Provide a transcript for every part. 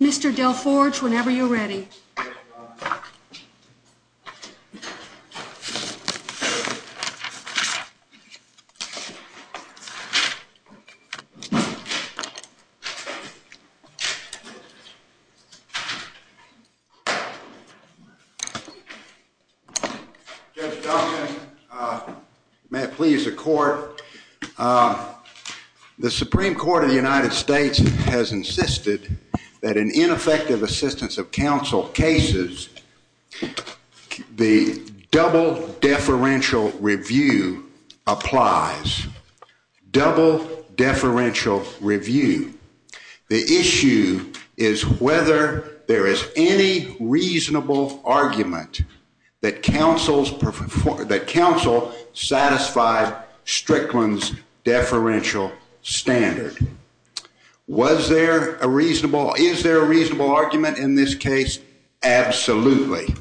Mr. Del Forge, whenever you're ready. Judge Duncan, may it please the court. The Supreme Court of the United States has insisted that in ineffective assistance of double deferential review applies. Double deferential review. The issue is whether there is any reasonable argument that counsel satisfied Strickland's deferential standard. Was there a reasonable, is there a reasonable argument in this case? Absolutely.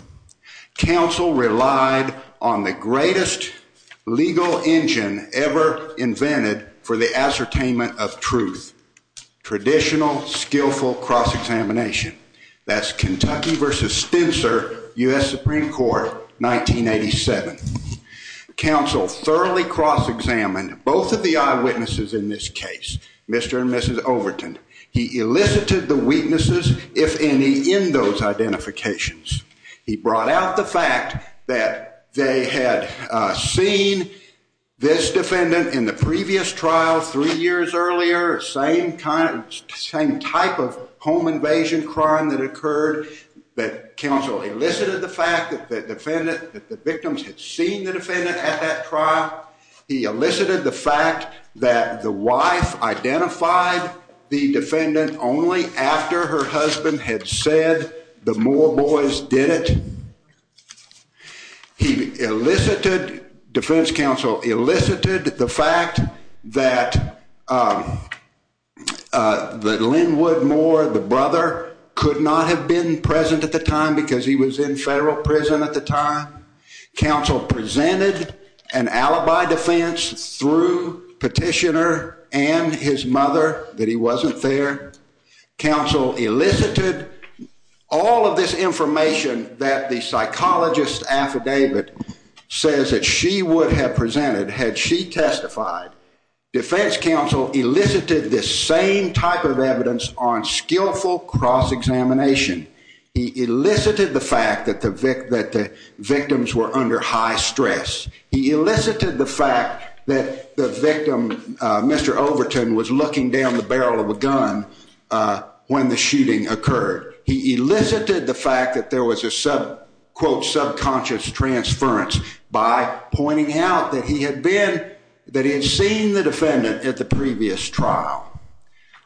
Counsel relied on the greatest legal engine ever invented for the ascertainment of truth. Traditional skillful cross-examination. That's Kentucky v. Stencer, U.S. Supreme Court, 1987. Counsel thoroughly cross-examined both of the eyewitnesses in this case, Mr. and Mrs. Overton. He elicited the weaknesses, if any, in those identifications. He brought out the fact that they had seen this defendant in the previous trial three years earlier, same type of home invasion crime that occurred, that counsel elicited the fact that the victims had seen the defendant at that trial. He elicited the fact that the wife identified the defendant only after her husband had said the Moore boys did it. He elicited, defense counsel elicited, the fact that Lynnwood Moore, the brother, could not have been present at the time because he was in federal prison at the time. Counsel presented an alibi defense through petitioner and his mother that he wasn't there. Counsel elicited all of this information that the psychologist's affidavit says that she would have presented had she testified. Defense counsel elicited this same type of evidence on skillful cross-examination. He elicited the fact that the victims were under high stress. He elicited the fact that the victim, Mr. Overton, was looking down the barrel of a gun when the shooting occurred. He elicited the fact that there was a quote subconscious transference by pointing out that he had been, that he had seen the defendant at the previous trial.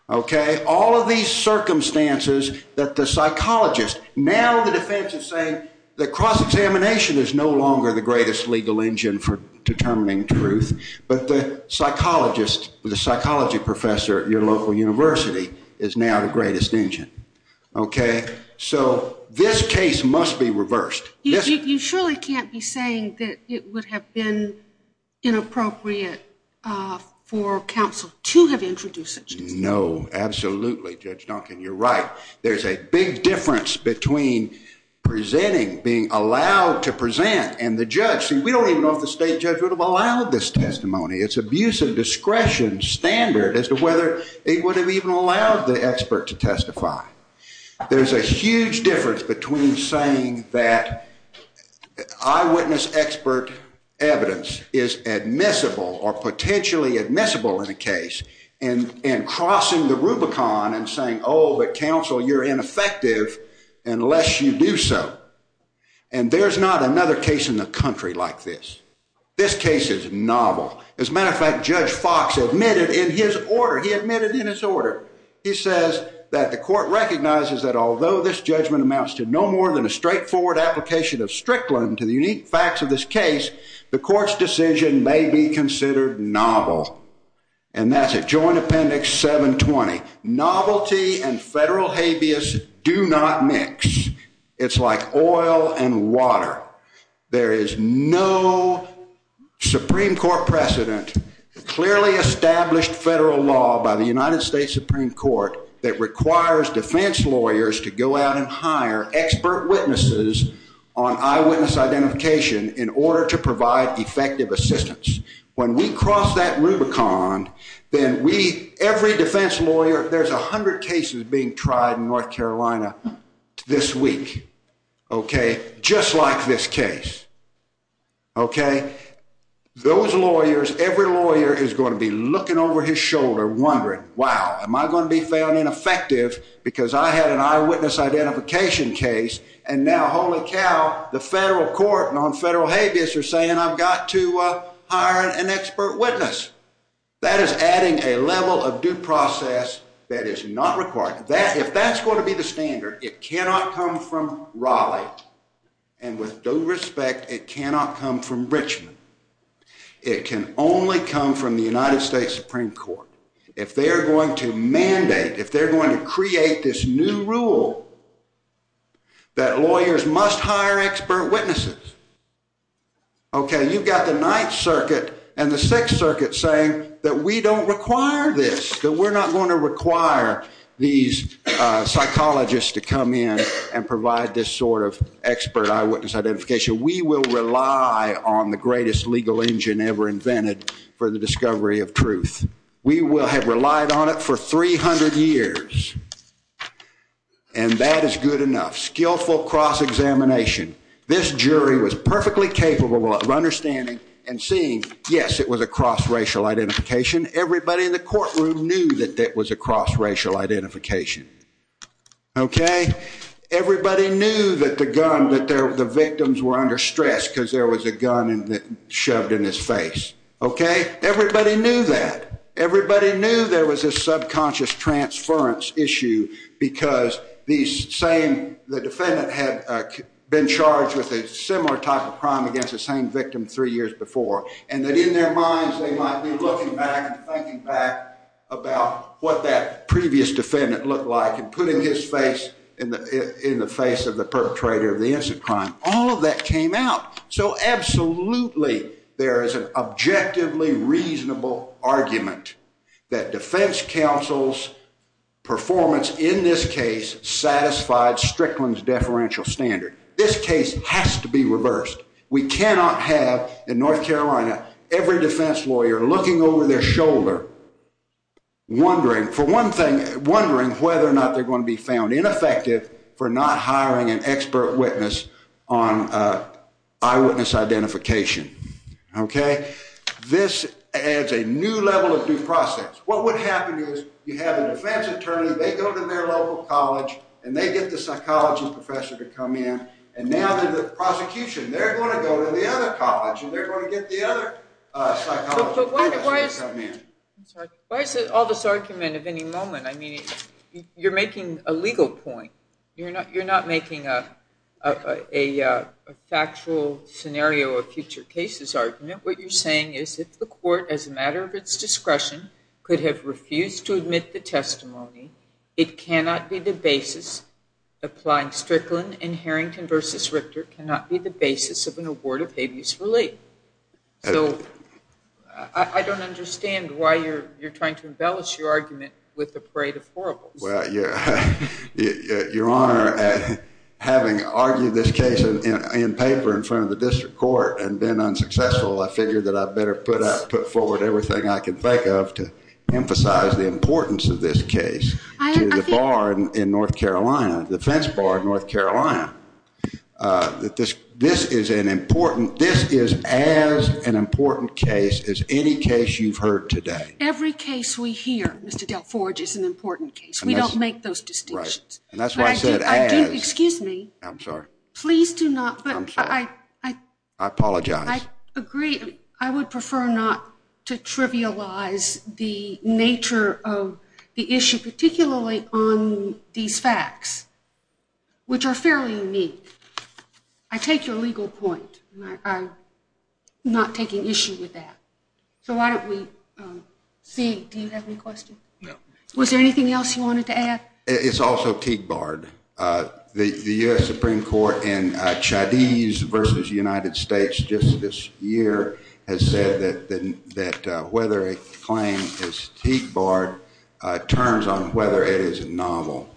All of these circumstances that the psychologist, now the defense is saying that cross-examination is no longer the greatest legal engine for determining truth, but the psychologist, the psychology professor at your local university is now the greatest engine. So this case must be reversed. You surely can't be saying that it would have been inappropriate for counsel to have introduced it. No. Absolutely, Judge Duncan. You're right. There's a big difference between presenting, being allowed to present, and the judge. We don't even know if the state judge would have allowed this testimony. It's abuse of discretion standard as to whether it would have even allowed the expert to testify. There's a huge difference between saying that eyewitness expert evidence is admissible or potentially admissible in a case and crossing the rubicon and saying, oh, but counsel, you're ineffective unless you do so. And there's not another case in the country like this. This case is novel. As a matter of fact, Judge Fox admitted in his order, he admitted in his order, he says that the court recognizes that although this judgment amounts to no more than a straightforward application of Strickland to the unique facts of this case, the court's decision may be considered novel. And that's at Joint Appendix 720. Novelty and federal habeas do not mix. It's like oil and water. There is no Supreme Court precedent, clearly established federal law by the United States Supreme Court that requires defense lawyers to go out and hire expert witnesses on eyewitness identification in order to provide effective assistance. When we cross that rubicon, then every defense lawyer, there's a hundred cases being tried in North Carolina this week, just like this case. Those lawyers, every lawyer is going to be looking over his shoulder, wondering, wow, am I going to be found ineffective because I had an eyewitness identification case and now holy cow, the federal court on federal habeas are saying I've got to hire an expert witness. That is adding a level of due process that is not required. If that's going to be the standard, it cannot come from Raleigh. And with due respect, it cannot come from Richmond. It can only come from the United States Supreme Court. If they're going to mandate, if they're going to create this new rule that lawyers must hire expert witnesses, okay, you've got the Ninth Circuit and the Sixth Circuit saying that we don't require this, that we're not going to require these psychologists to come in and provide this sort of expert eyewitness identification. We will rely on the greatest legal engine ever invented for the discovery of truth. We will have relied on it for 300 years. And that is good enough. Skillful cross-examination. This jury was perfectly capable of understanding and seeing, yes, it was a cross-racial identification. Everybody in the courtroom knew that it was a cross-racial identification, okay? Everybody knew that the gun, that the victims were under stress because there was a gun shoved in his face, okay? Everybody knew that. Everybody knew there was a subconscious transference issue because the defendant had been charged with a similar type of crime against the same victim three years before. And that in their minds, they might be looking back and thinking back about what that previous defendant looked like and putting his face in the face of the perpetrator of the incident crime. All of that came out. So absolutely, there is an objectively reasonable argument that defense counsel's performance in this case satisfied Strickland's deferential standard. This case has to be reversed. We cannot have, in North Carolina, every defense lawyer looking over their shoulder, wondering, for one thing, wondering whether or not they're going to be found ineffective for not hiring an expert witness on eyewitness identification, okay? This adds a new level of due process. What would happen is you have a defense attorney, they go to their local college, and they get the psychology professor to come in. And now, the prosecution, they're going to go to the other college, and they're going to get the other psychologist to come in. I'm sorry. Why is all this argument of any moment? I mean, you're making a legal point. You're not making a factual scenario of future cases argument. What you're saying is, if the court, as a matter of its discretion, could have refused to admit the testimony, it cannot be the basis, applying Strickland and Harrington v. Richter cannot be the basis of an award of habeas relief. So, I don't understand why you're trying to embellish your argument with a parade of horribles. Your Honor, having argued this case in paper in front of the district court and been unsuccessful, I figured that I better put forward everything I can think of to emphasize the importance of this case to the bar in North Carolina, the fence bar in North Carolina. This is as an important case as any case you've heard today. Every case we hear, Mr. Del Forge, is an important case. We don't make those distinctions. Right. And that's why I said as. Excuse me. I'm sorry. Please do not. I'm sorry. I apologize. I agree. I would prefer not to trivialize the nature of the issue, particularly on these facts, which are fairly unique. I take your legal point. I'm not taking issue with that. So, why don't we see. Do you have any questions? Was there anything else you wanted to add? It's also Teague Bard. The U.S. Supreme Court in Chinese versus United States just this year has said that whether a claim is Teague Bard turns on whether it is novel.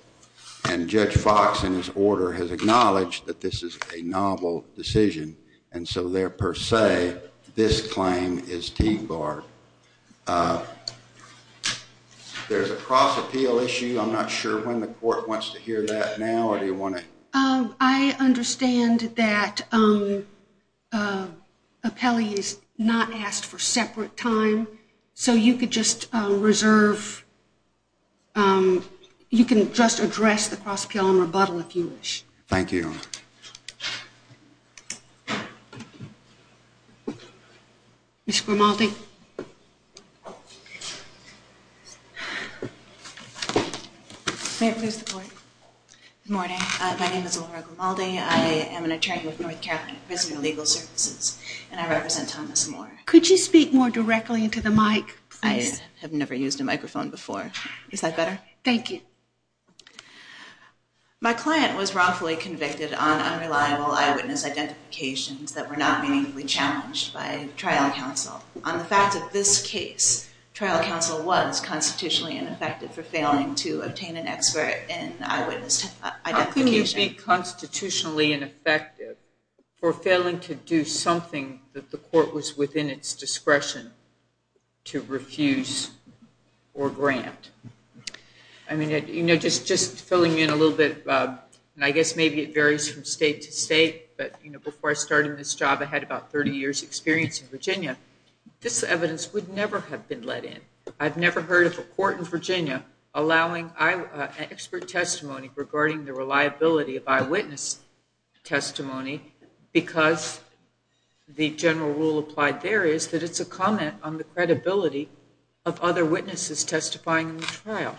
And Judge Fox, in his order, has acknowledged that this is a novel decision. And so, there per se, this claim is Teague Bard. There's a cross-appeal issue. I'm not sure when the court wants to hear that now. I understand that an appellee is not asked for separate time. So you could just reserve. You can just address the cross-appeal and rebuttal if you wish. Thank you. Ms. Grimaldi. Good morning. My name is Laura Grimaldi. I am an attorney with North Carolina Prisoner Legal Services, and I represent Thomas Moore. Could you speak more directly into the mic, please? I have never used a microphone before. Is that better? Thank you. My client was wrongfully convicted on unreliable eyewitness identifications that were not meaningfully challenged by trial counsel. On the fact that this case, trial counsel was constitutionally ineffective for failing to obtain an expert in eyewitness identification. How could you be constitutionally ineffective for failing to do something that the court was within its discretion to refuse or grant? I mean, just filling in a little bit, and I guess maybe it varies from state to state, but before I started this job, I had about 30 years' experience in Virginia. This evidence would never have been let in. I've never heard of a court in Virginia allowing an expert testimony regarding the reliability of eyewitness testimony because the general rule applied there is that it's a comment on the credibility of other witnesses testifying in the trial.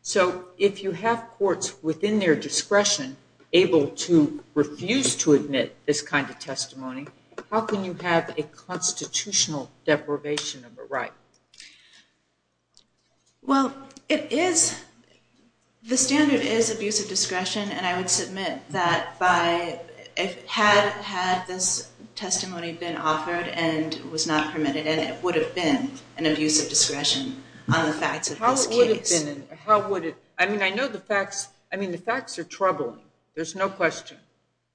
So if you have courts within their discretion able to refuse to admit this kind of testimony, how can you have a constitutional deprivation of a right? Well, the standard is abuse of discretion, and I would submit that had this testimony been offered and was not permitted, and it would have been an abuse of discretion on How would it? I mean, I know the facts. I mean, the facts are troubling. There's no question.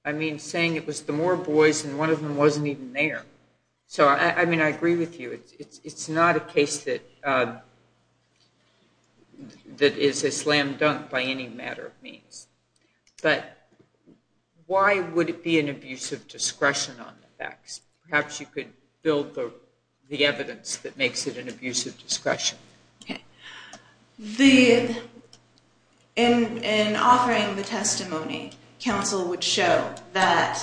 I mean, saying it was the Moore boys and one of them wasn't even there. So I mean, I agree with you. It's not a case that is a slam dunk by any matter of means. But why would it be an abuse of discretion on the facts? Perhaps you could build the evidence that makes it an abuse of discretion. Okay. In offering the testimony, counsel would show that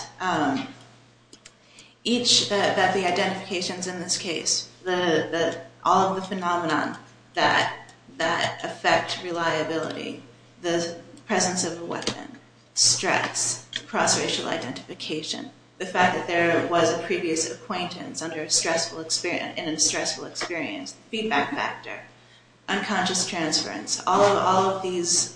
each, that the identifications in this case, all of the phenomenon that affect reliability, the presence of a weapon, stress, cross-racial identification, the fact that there was a previous acquaintance in a stressful experience, feedback factor, unconscious transference, all of these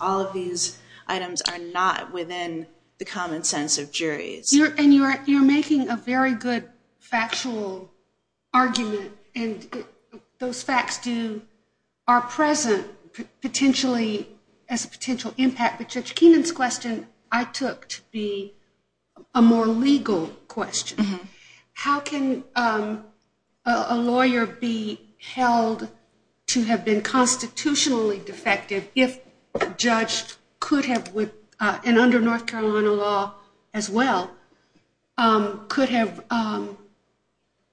items are not within the common sense of juries. And you're making a very good factual argument, and those facts are present potentially as a potential impact. But Judge Keenan's question I took to be a more legal question. How can a lawyer be held to have been constitutionally defective if a judge could have, and under North Carolina law as well, could have,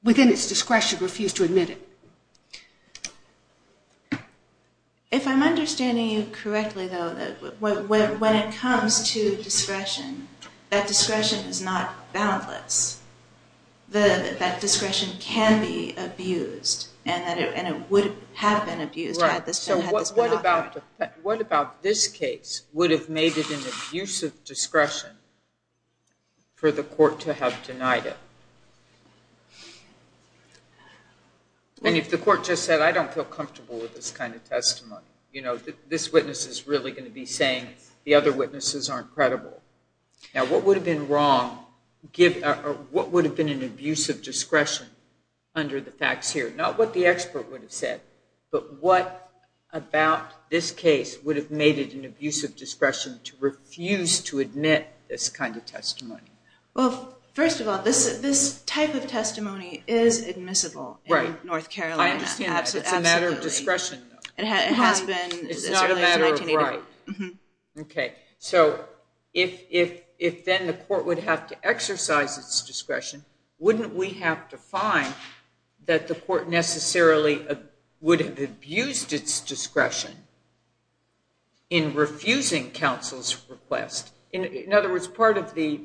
within its discretion, refused to admit it? If I'm understanding you correctly, though, when it comes to discretion, that discretion is not boundless. That discretion can be abused, and it would have been abused had this been offered. Right. So what about this case would have made it an abuse of discretion for the court to have denied it? And if the court just said, I don't feel comfortable with this kind of testimony, you know, this witness is really going to be saying the other witnesses aren't credible. Now, what would have been wrong, or what would have been an abuse of discretion under the facts here? Not what the expert would have said, but what about this case would have made it an abuse of discretion to refuse to admit this kind of testimony? Well, first of all, this type of testimony is admissible in North Carolina. Right. I understand that. It's a matter of discretion. It has been. It's not a matter of right. Mm-hmm. Okay. So if then the court would have to exercise its discretion, wouldn't we have to find that the court necessarily would have abused its discretion in refusing counsel's request? In other words, part of the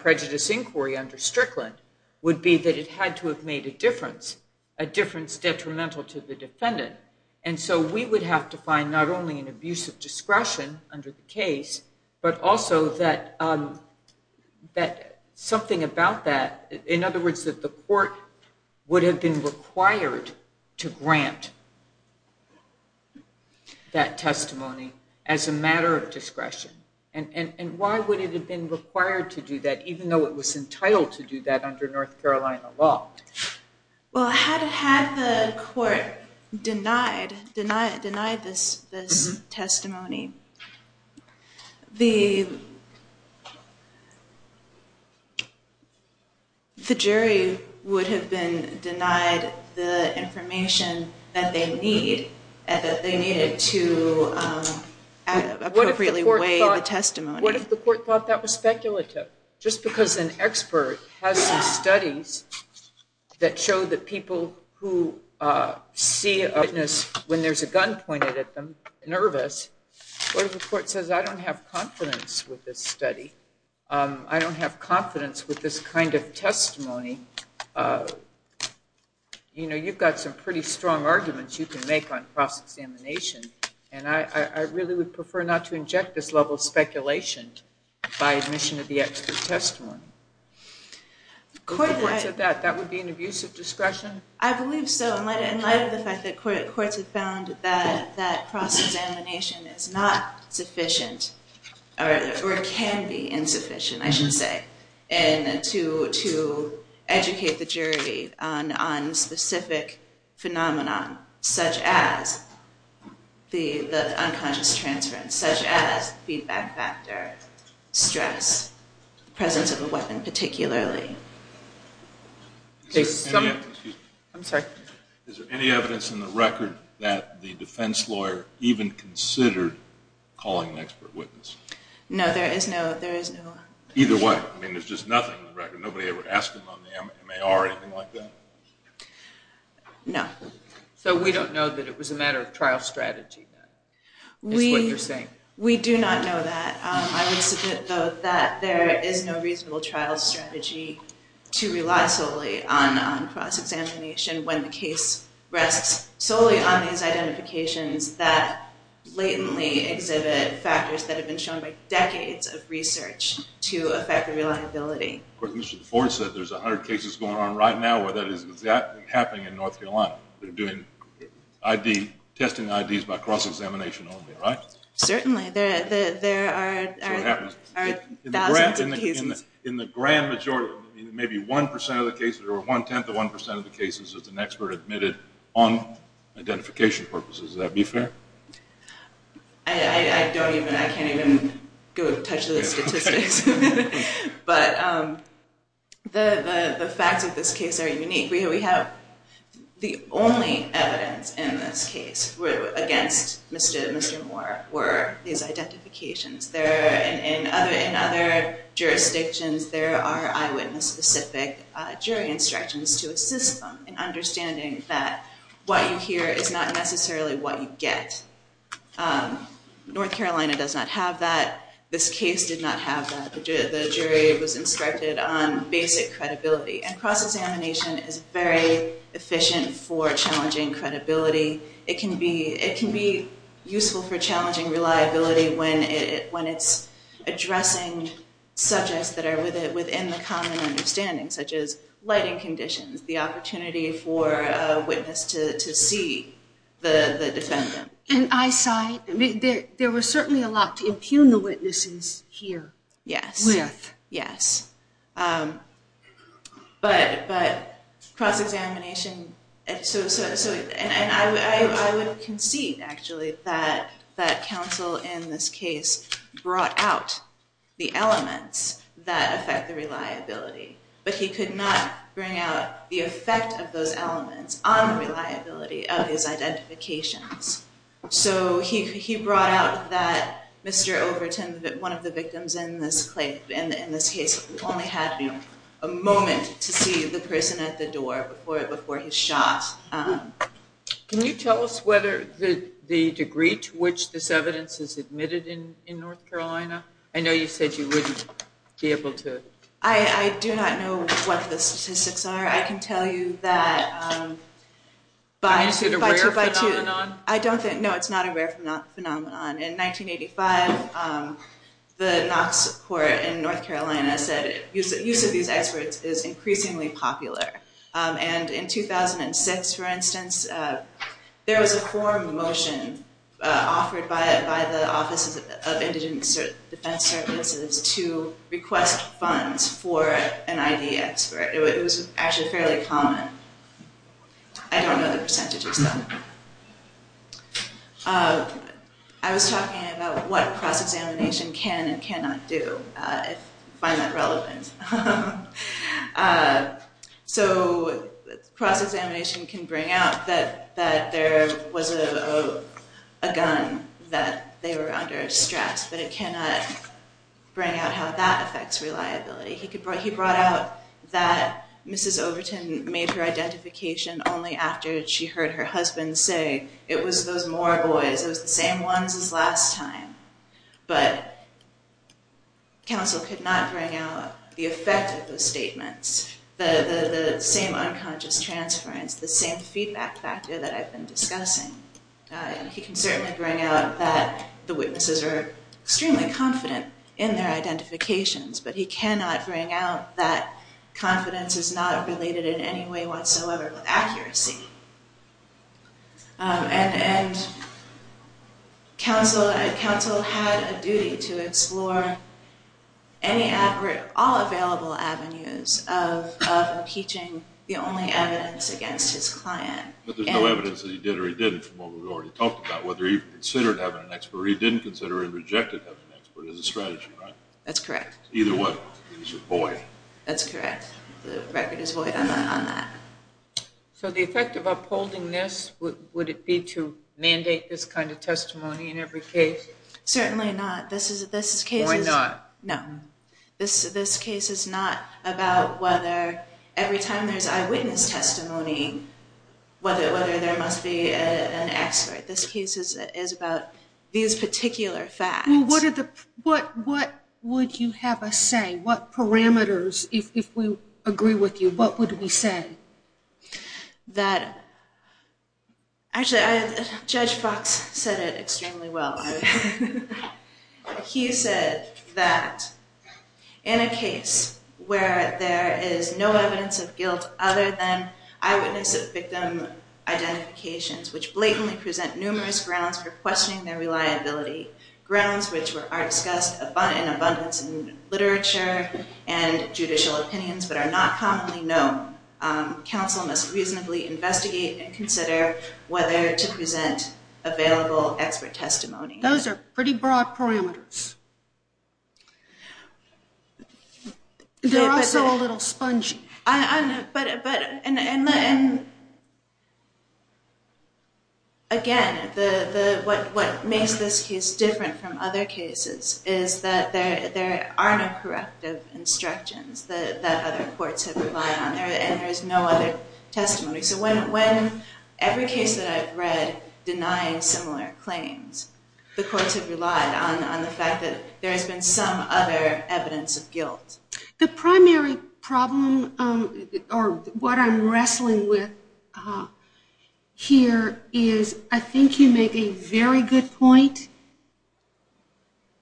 prejudice inquiry under Strickland would be that it had to have made a difference, a difference detrimental to the defendant. And so we would have to find not only an abuse of discretion under the case, but also that something about that, in other words, that the court would have been required to grant that testimony as a matter of discretion. And why would it have been required to do that, even though it was entitled to do that under North Carolina law? Well, had the court denied this testimony, the jury would have been denied the information that they needed to appropriately weigh the testimony. What if the court thought that was speculative? Just because an expert has some studies that show that people who see a witness when there's a gun pointed at them, nervous, what if the court says, I don't have confidence with this study? I don't have confidence with this kind of testimony. You know, you've got some pretty strong arguments you can make on cross-examination, and I really would prefer not to inject this level of speculation by admission of the expert testimony. If the court said that, that would be an abuse of discretion? I believe so, in light of the fact that courts have found that cross-examination is not sufficient, or can be insufficient, I should say, to educate the jury on specific phenomenon, such as the unconscious transference, such as feedback factor, stress, the presence of a weapon particularly. Is there any evidence in the record that the defense lawyer even considered calling an expert witness? No, there is no evidence. Either way, I mean, there's just nothing in the record. Nobody ever asked him on the M.A.R. or anything like that? No. So we don't know that it was a matter of trial strategy, is what you're saying? We do not know that. I would submit, though, that there is no reasonable trial strategy to rely solely on cross-examination when the case rests solely on these identifications that blatantly exhibit factors that have been shown by decades of research to affect the reliability. Of course, as Mr. DeForest said, there's a hundred cases going on right now where that is exactly happening in North Carolina. They're doing ID, testing IDs by cross-examination only, right? Certainly. There are thousands of cases. In the grand majority, maybe one percent of the cases, or one-tenth of one percent of the cases, is an expert admitted on identification purposes. Would that be fair? I don't even, I can't even go touch the statistics. But the facts of this case are unique. We have the only evidence in this case against Mr. Moore were these identifications. In other jurisdictions, there are eyewitness-specific jury instructions to assist them in understanding that what you hear is not necessarily what you get. North Carolina does not have that. This case did not have that. The jury was instructed on basic credibility. And cross-examination is very efficient for challenging credibility. It can be useful for challenging reliability when it's addressing subjects that are within the common understanding, such as lighting conditions, the opportunity for a witness to see the defendant. And eyesight, there was certainly a lot to impugn the witnesses here. Yes. With. Yes. But cross-examination, and I would concede, actually, that counsel in this case brought out the elements that affect the reliability, but he could not bring out the effect of those elements on the reliability of his identifications. So he brought out that Mr. Overton, one of the victims in this case, only had a moment to see the person at the door before he shot. Can you tell us whether the degree to which this evidence is admitted in North Carolina? I know you said you wouldn't be able to. I do not know what the statistics are. I can tell you that by. Is it a rare phenomenon? I don't think. No, it's not a rare phenomenon. In 1985, the Knox Court in North Carolina said use of these experts is increasingly popular. And in 2006, for instance, there was a forum motion offered by the Offices of Indigent Defense Services to request funds for an ID expert. It was actually fairly common. I don't know the percentages, though. I was talking about what cross-examination can and cannot do, if you find that relevant. So cross-examination can bring out that there was a gun, that they were under stress, but it cannot bring out how that affects reliability. He brought out that Mrs. Overton made her identification only after she heard her husband say, it was those Moor boys, it was the same ones as last time. But counsel could not bring out the effect of those statements, the same unconscious transference, the same feedback factor that I've been discussing. He can certainly bring out that the witnesses are extremely confident in their identifications, but he cannot bring out that confidence is not related in any way whatsoever with accuracy. And counsel had a duty to explore all available avenues of impeaching the only evidence against his client. But there's no evidence that he did or he didn't, from what we've already talked about, whether he considered having an expert or he didn't consider or rejected having an expert, as a strategy, right? That's correct. Either one. It's a void. That's correct. The record is void on that. So the effect of upholding this, would it be to mandate this kind of testimony in every case? Certainly not. This case is... Why not? No. This case is not about whether every time there's eyewitness testimony, whether there must be an expert. This case is about these particular facts. Well, what would you have us say? What parameters, if we agree with you, what would we say? Actually, Judge Fox said it extremely well. He said that in a case where there is no evidence of guilt other than eyewitness of victim identifications, which blatantly present numerous grounds for questioning their reliability, grounds which are discussed in abundance in literature and judicial opinions but are not commonly known, counsel must reasonably investigate and consider whether to present available expert testimony. Those are pretty broad parameters. They're also a little spongy. Again, what makes this case different from other cases is that there are no corrective instructions that other courts have relied on, and there is no other testimony. So every case that I've read denying similar claims, the courts have relied on the fact that there has been some other evidence of guilt. The primary problem, or what I'm wrestling with here, is I think you make a very good point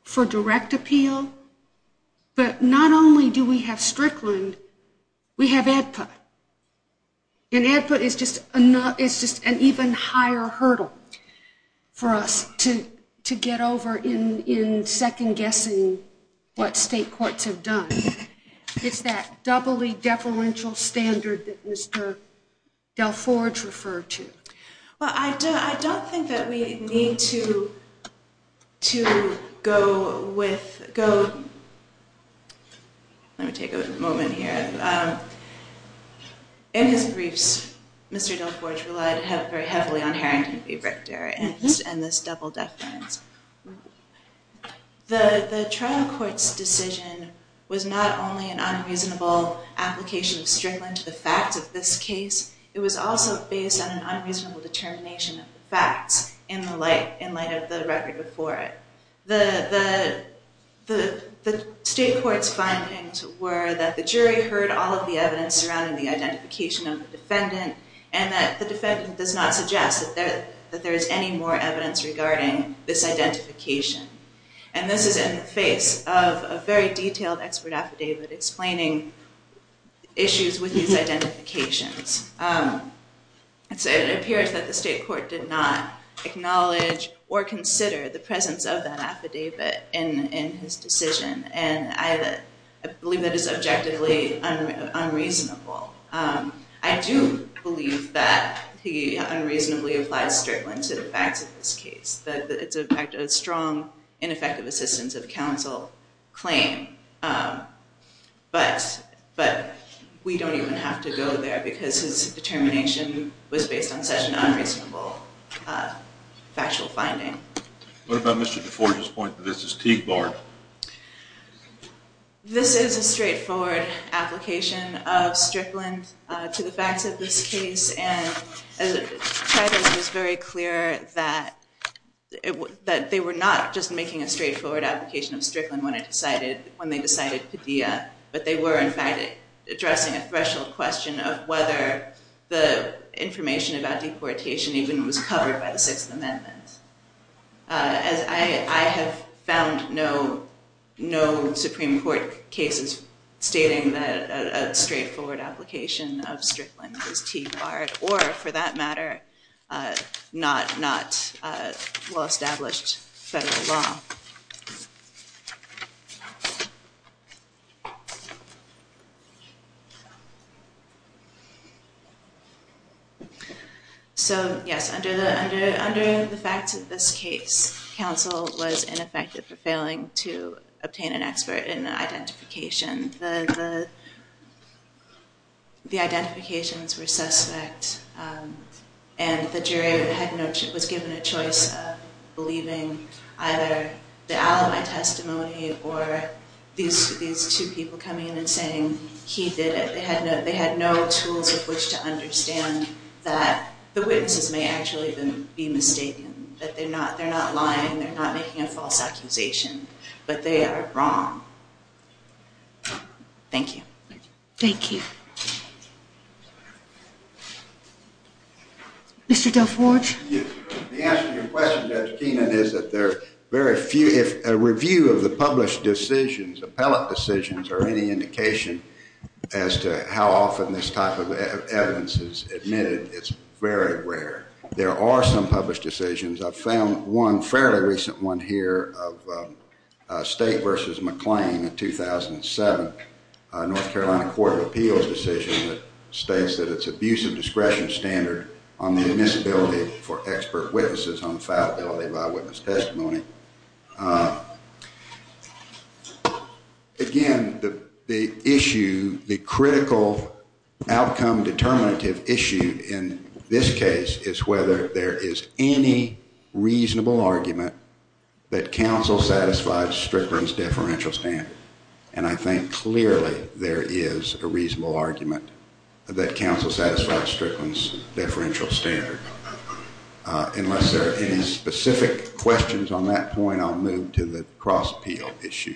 for direct appeal, but not only do we have Strickland, we have AEDPA, and AEDPA is just an even higher hurdle for us to get over in second-guessing what state courts have done. It's that doubly-deferential standard that Mr. Del Forge referred to. Well, I don't think that we need to go with—let me take a moment here—in his briefs, Mr. Del Forge relied very heavily on Harrington v. Richter and this double-deference. The trial court's decision was not only an unreasonable application of Strickland to the facts of this case, it was also based on an unreasonable determination of the facts in light of the record before it. The state court's findings were that the jury heard all of the evidence surrounding the identification of the defendant, and that the defendant does not suggest that there is any more evidence regarding this identification. And this is in the face of a very detailed expert affidavit explaining issues with these identifications. It appears that the state court did not acknowledge or consider the presence of that affidavit in his decision, and I believe that is objectively unreasonable. I do believe that he unreasonably applied Strickland to the facts of this case. It's a strong, ineffective assistance of counsel claim, but we don't even have to go there because his determination was based on such an unreasonable factual finding. What about Mr. Del Forge's point that this is Teague Bard? This is a straightforward application of Strickland to the facts of this case, and Teague was very clear that they were not just making a straightforward application of Strickland when they decided Padilla, but they were, in fact, addressing a threshold question of whether the information about deportation even was covered by the Sixth Amendment. I have found no Supreme Court cases stating that a straightforward application of Strickland was Teague Bard or, for that matter, not well-established federal law. So, yes, under the facts of this case, counsel was ineffective for failing to obtain an expert in identification. The identifications were suspect, and the jury was given a choice of believing either the alibi testimony or these two people coming in and saying he did it. They had no tools of which to understand that the witnesses may actually be mistaken, that they're not lying, they're not making a false accusation, but they are wrong. Thank you. Thank you. Mr. Del Forge? The answer to your question, Judge Keenan, is that a review of the published decisions, appellate decisions, are any indication as to how often this type of evidence is admitted. It's very rare. There are some published decisions. I found one fairly recent one here of State v. McLean in 2007, a North Carolina Court of Appeals decision that states that it's abuse of discretion standard on the admissibility for expert witnesses on fiability by witness testimony. Again, the issue, the critical outcome determinative issue in this case is whether there is any reasonable argument that counsel satisfied Strickland's deferential standard. And I think clearly there is a reasonable argument that counsel satisfied Strickland's deferential standard. Unless there are any specific questions on that point, I'll move to the cross appeal issue.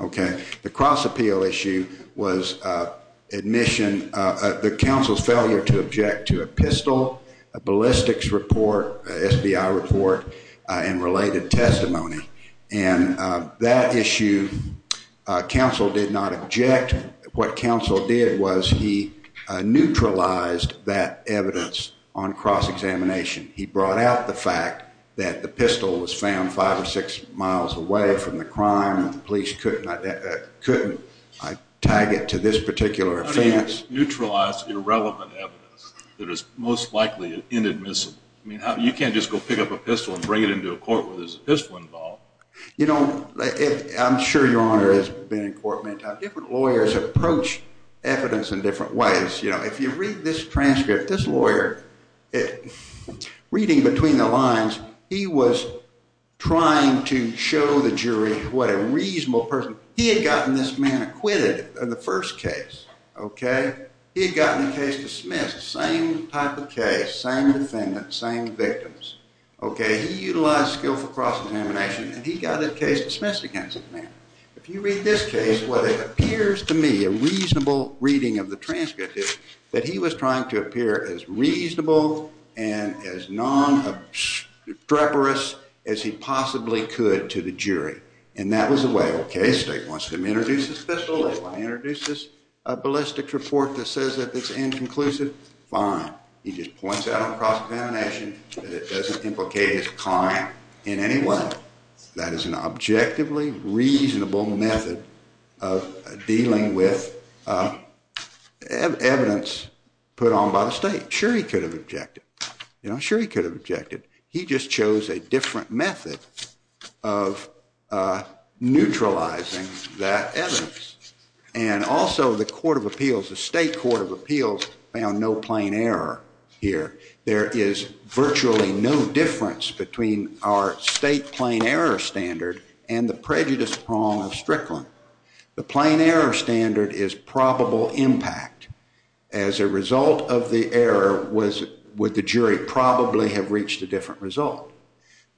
Okay. The cross appeal issue was the counsel's failure to object to a pistol, a ballistics report, SBI report, and related testimony. And that issue, counsel did not object. What counsel did was he neutralized that evidence on cross examination. He brought out the fact that the pistol was found five or six miles away from the crime and the police couldn't tag it to this particular offense. How do you neutralize irrelevant evidence that is most likely inadmissible? You can't just go pick up a pistol and bring it into a court where there's a pistol involved. You know, I'm sure your honor has been in court many times. Different lawyers approach evidence in different ways. If you read this transcript, this lawyer, reading between the lines, he was trying to show the jury what a reasonable person, he had gotten this man acquitted in the first case. He had gotten the case dismissed, same type of case, same defendant, same victims. He utilized skill for cross examination and he got the case dismissed against the man. If you read this case, what it appears to me, a reasonable reading of the transcript is, that he was trying to appear as reasonable and as non-streperous as he possibly could to the jury. And that was the way, okay, the state wants to introduce this pistol, they want to introduce this ballistic report that says that it's inconclusive, fine. He just points out on cross-examination that it doesn't implicate his client in any way. That is an objectively reasonable method of dealing with evidence put on by the state. Sure he could have objected. Sure he could have objected. He just chose a different method of neutralizing that evidence. And also the court of appeals, the state court of appeals found no plain error here. There is virtually no difference between our state plain error standard and the prejudice prong of Strickland. The plain error standard is probable impact. As a result of the error, would the jury probably have reached a different result?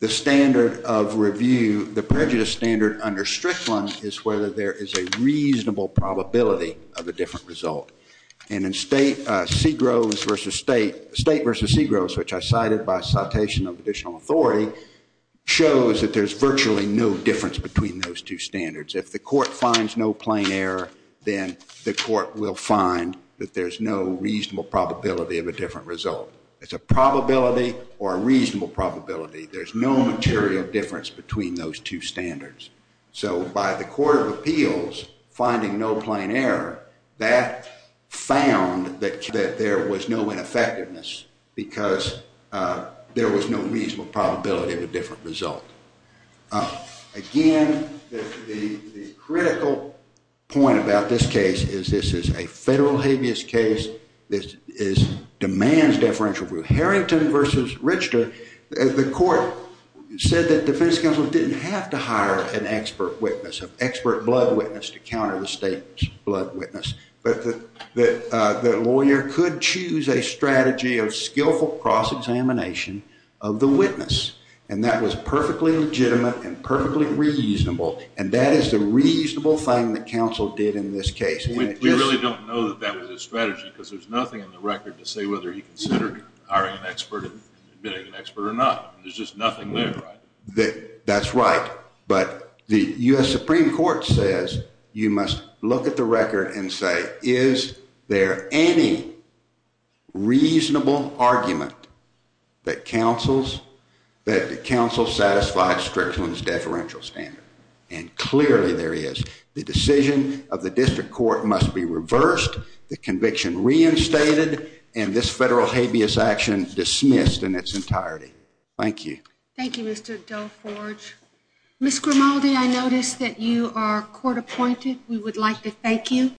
The standard of review, the prejudice standard under Strickland, is whether there is a reasonable probability of a different result. And in State v. Segros, which I cited by citation of additional authority, shows that there is virtually no difference between those two standards. If the court finds no plain error, then the court will find that there's no reasonable probability of a different result. It's a probability or a reasonable probability. There's no material difference between those two standards. So by the court of appeals finding no plain error, that found that there was no ineffectiveness, because there was no reasonable probability of a different result. Again, the critical point about this case is this is a federal habeas case. This demands deferential rule. Harrington v. Richter, the court said that defense counsel didn't have to hire an expert witness, an expert blood witness to counter the state's blood witness. But the lawyer could choose a strategy of skillful cross-examination of the witness. And that was perfectly legitimate and perfectly reasonable. And that is the reasonable thing that counsel did in this case. We really don't know that that was his strategy, because there's nothing in the record to say whether he considered hiring an expert and admitting an expert or not. There's just nothing there, right? That's right. But the U.S. Supreme Court says you must look at the record and say, is there any reasonable argument that counsel satisfied Strickland's deferential standard? And clearly there is. The decision of the district court must be reversed, the conviction reinstated, and this federal habeas action dismissed in its entirety. Thank you. Thank you, Mr. Delforge. Ms. Grimaldi, I notice that you are court appointed. We would like to thank you.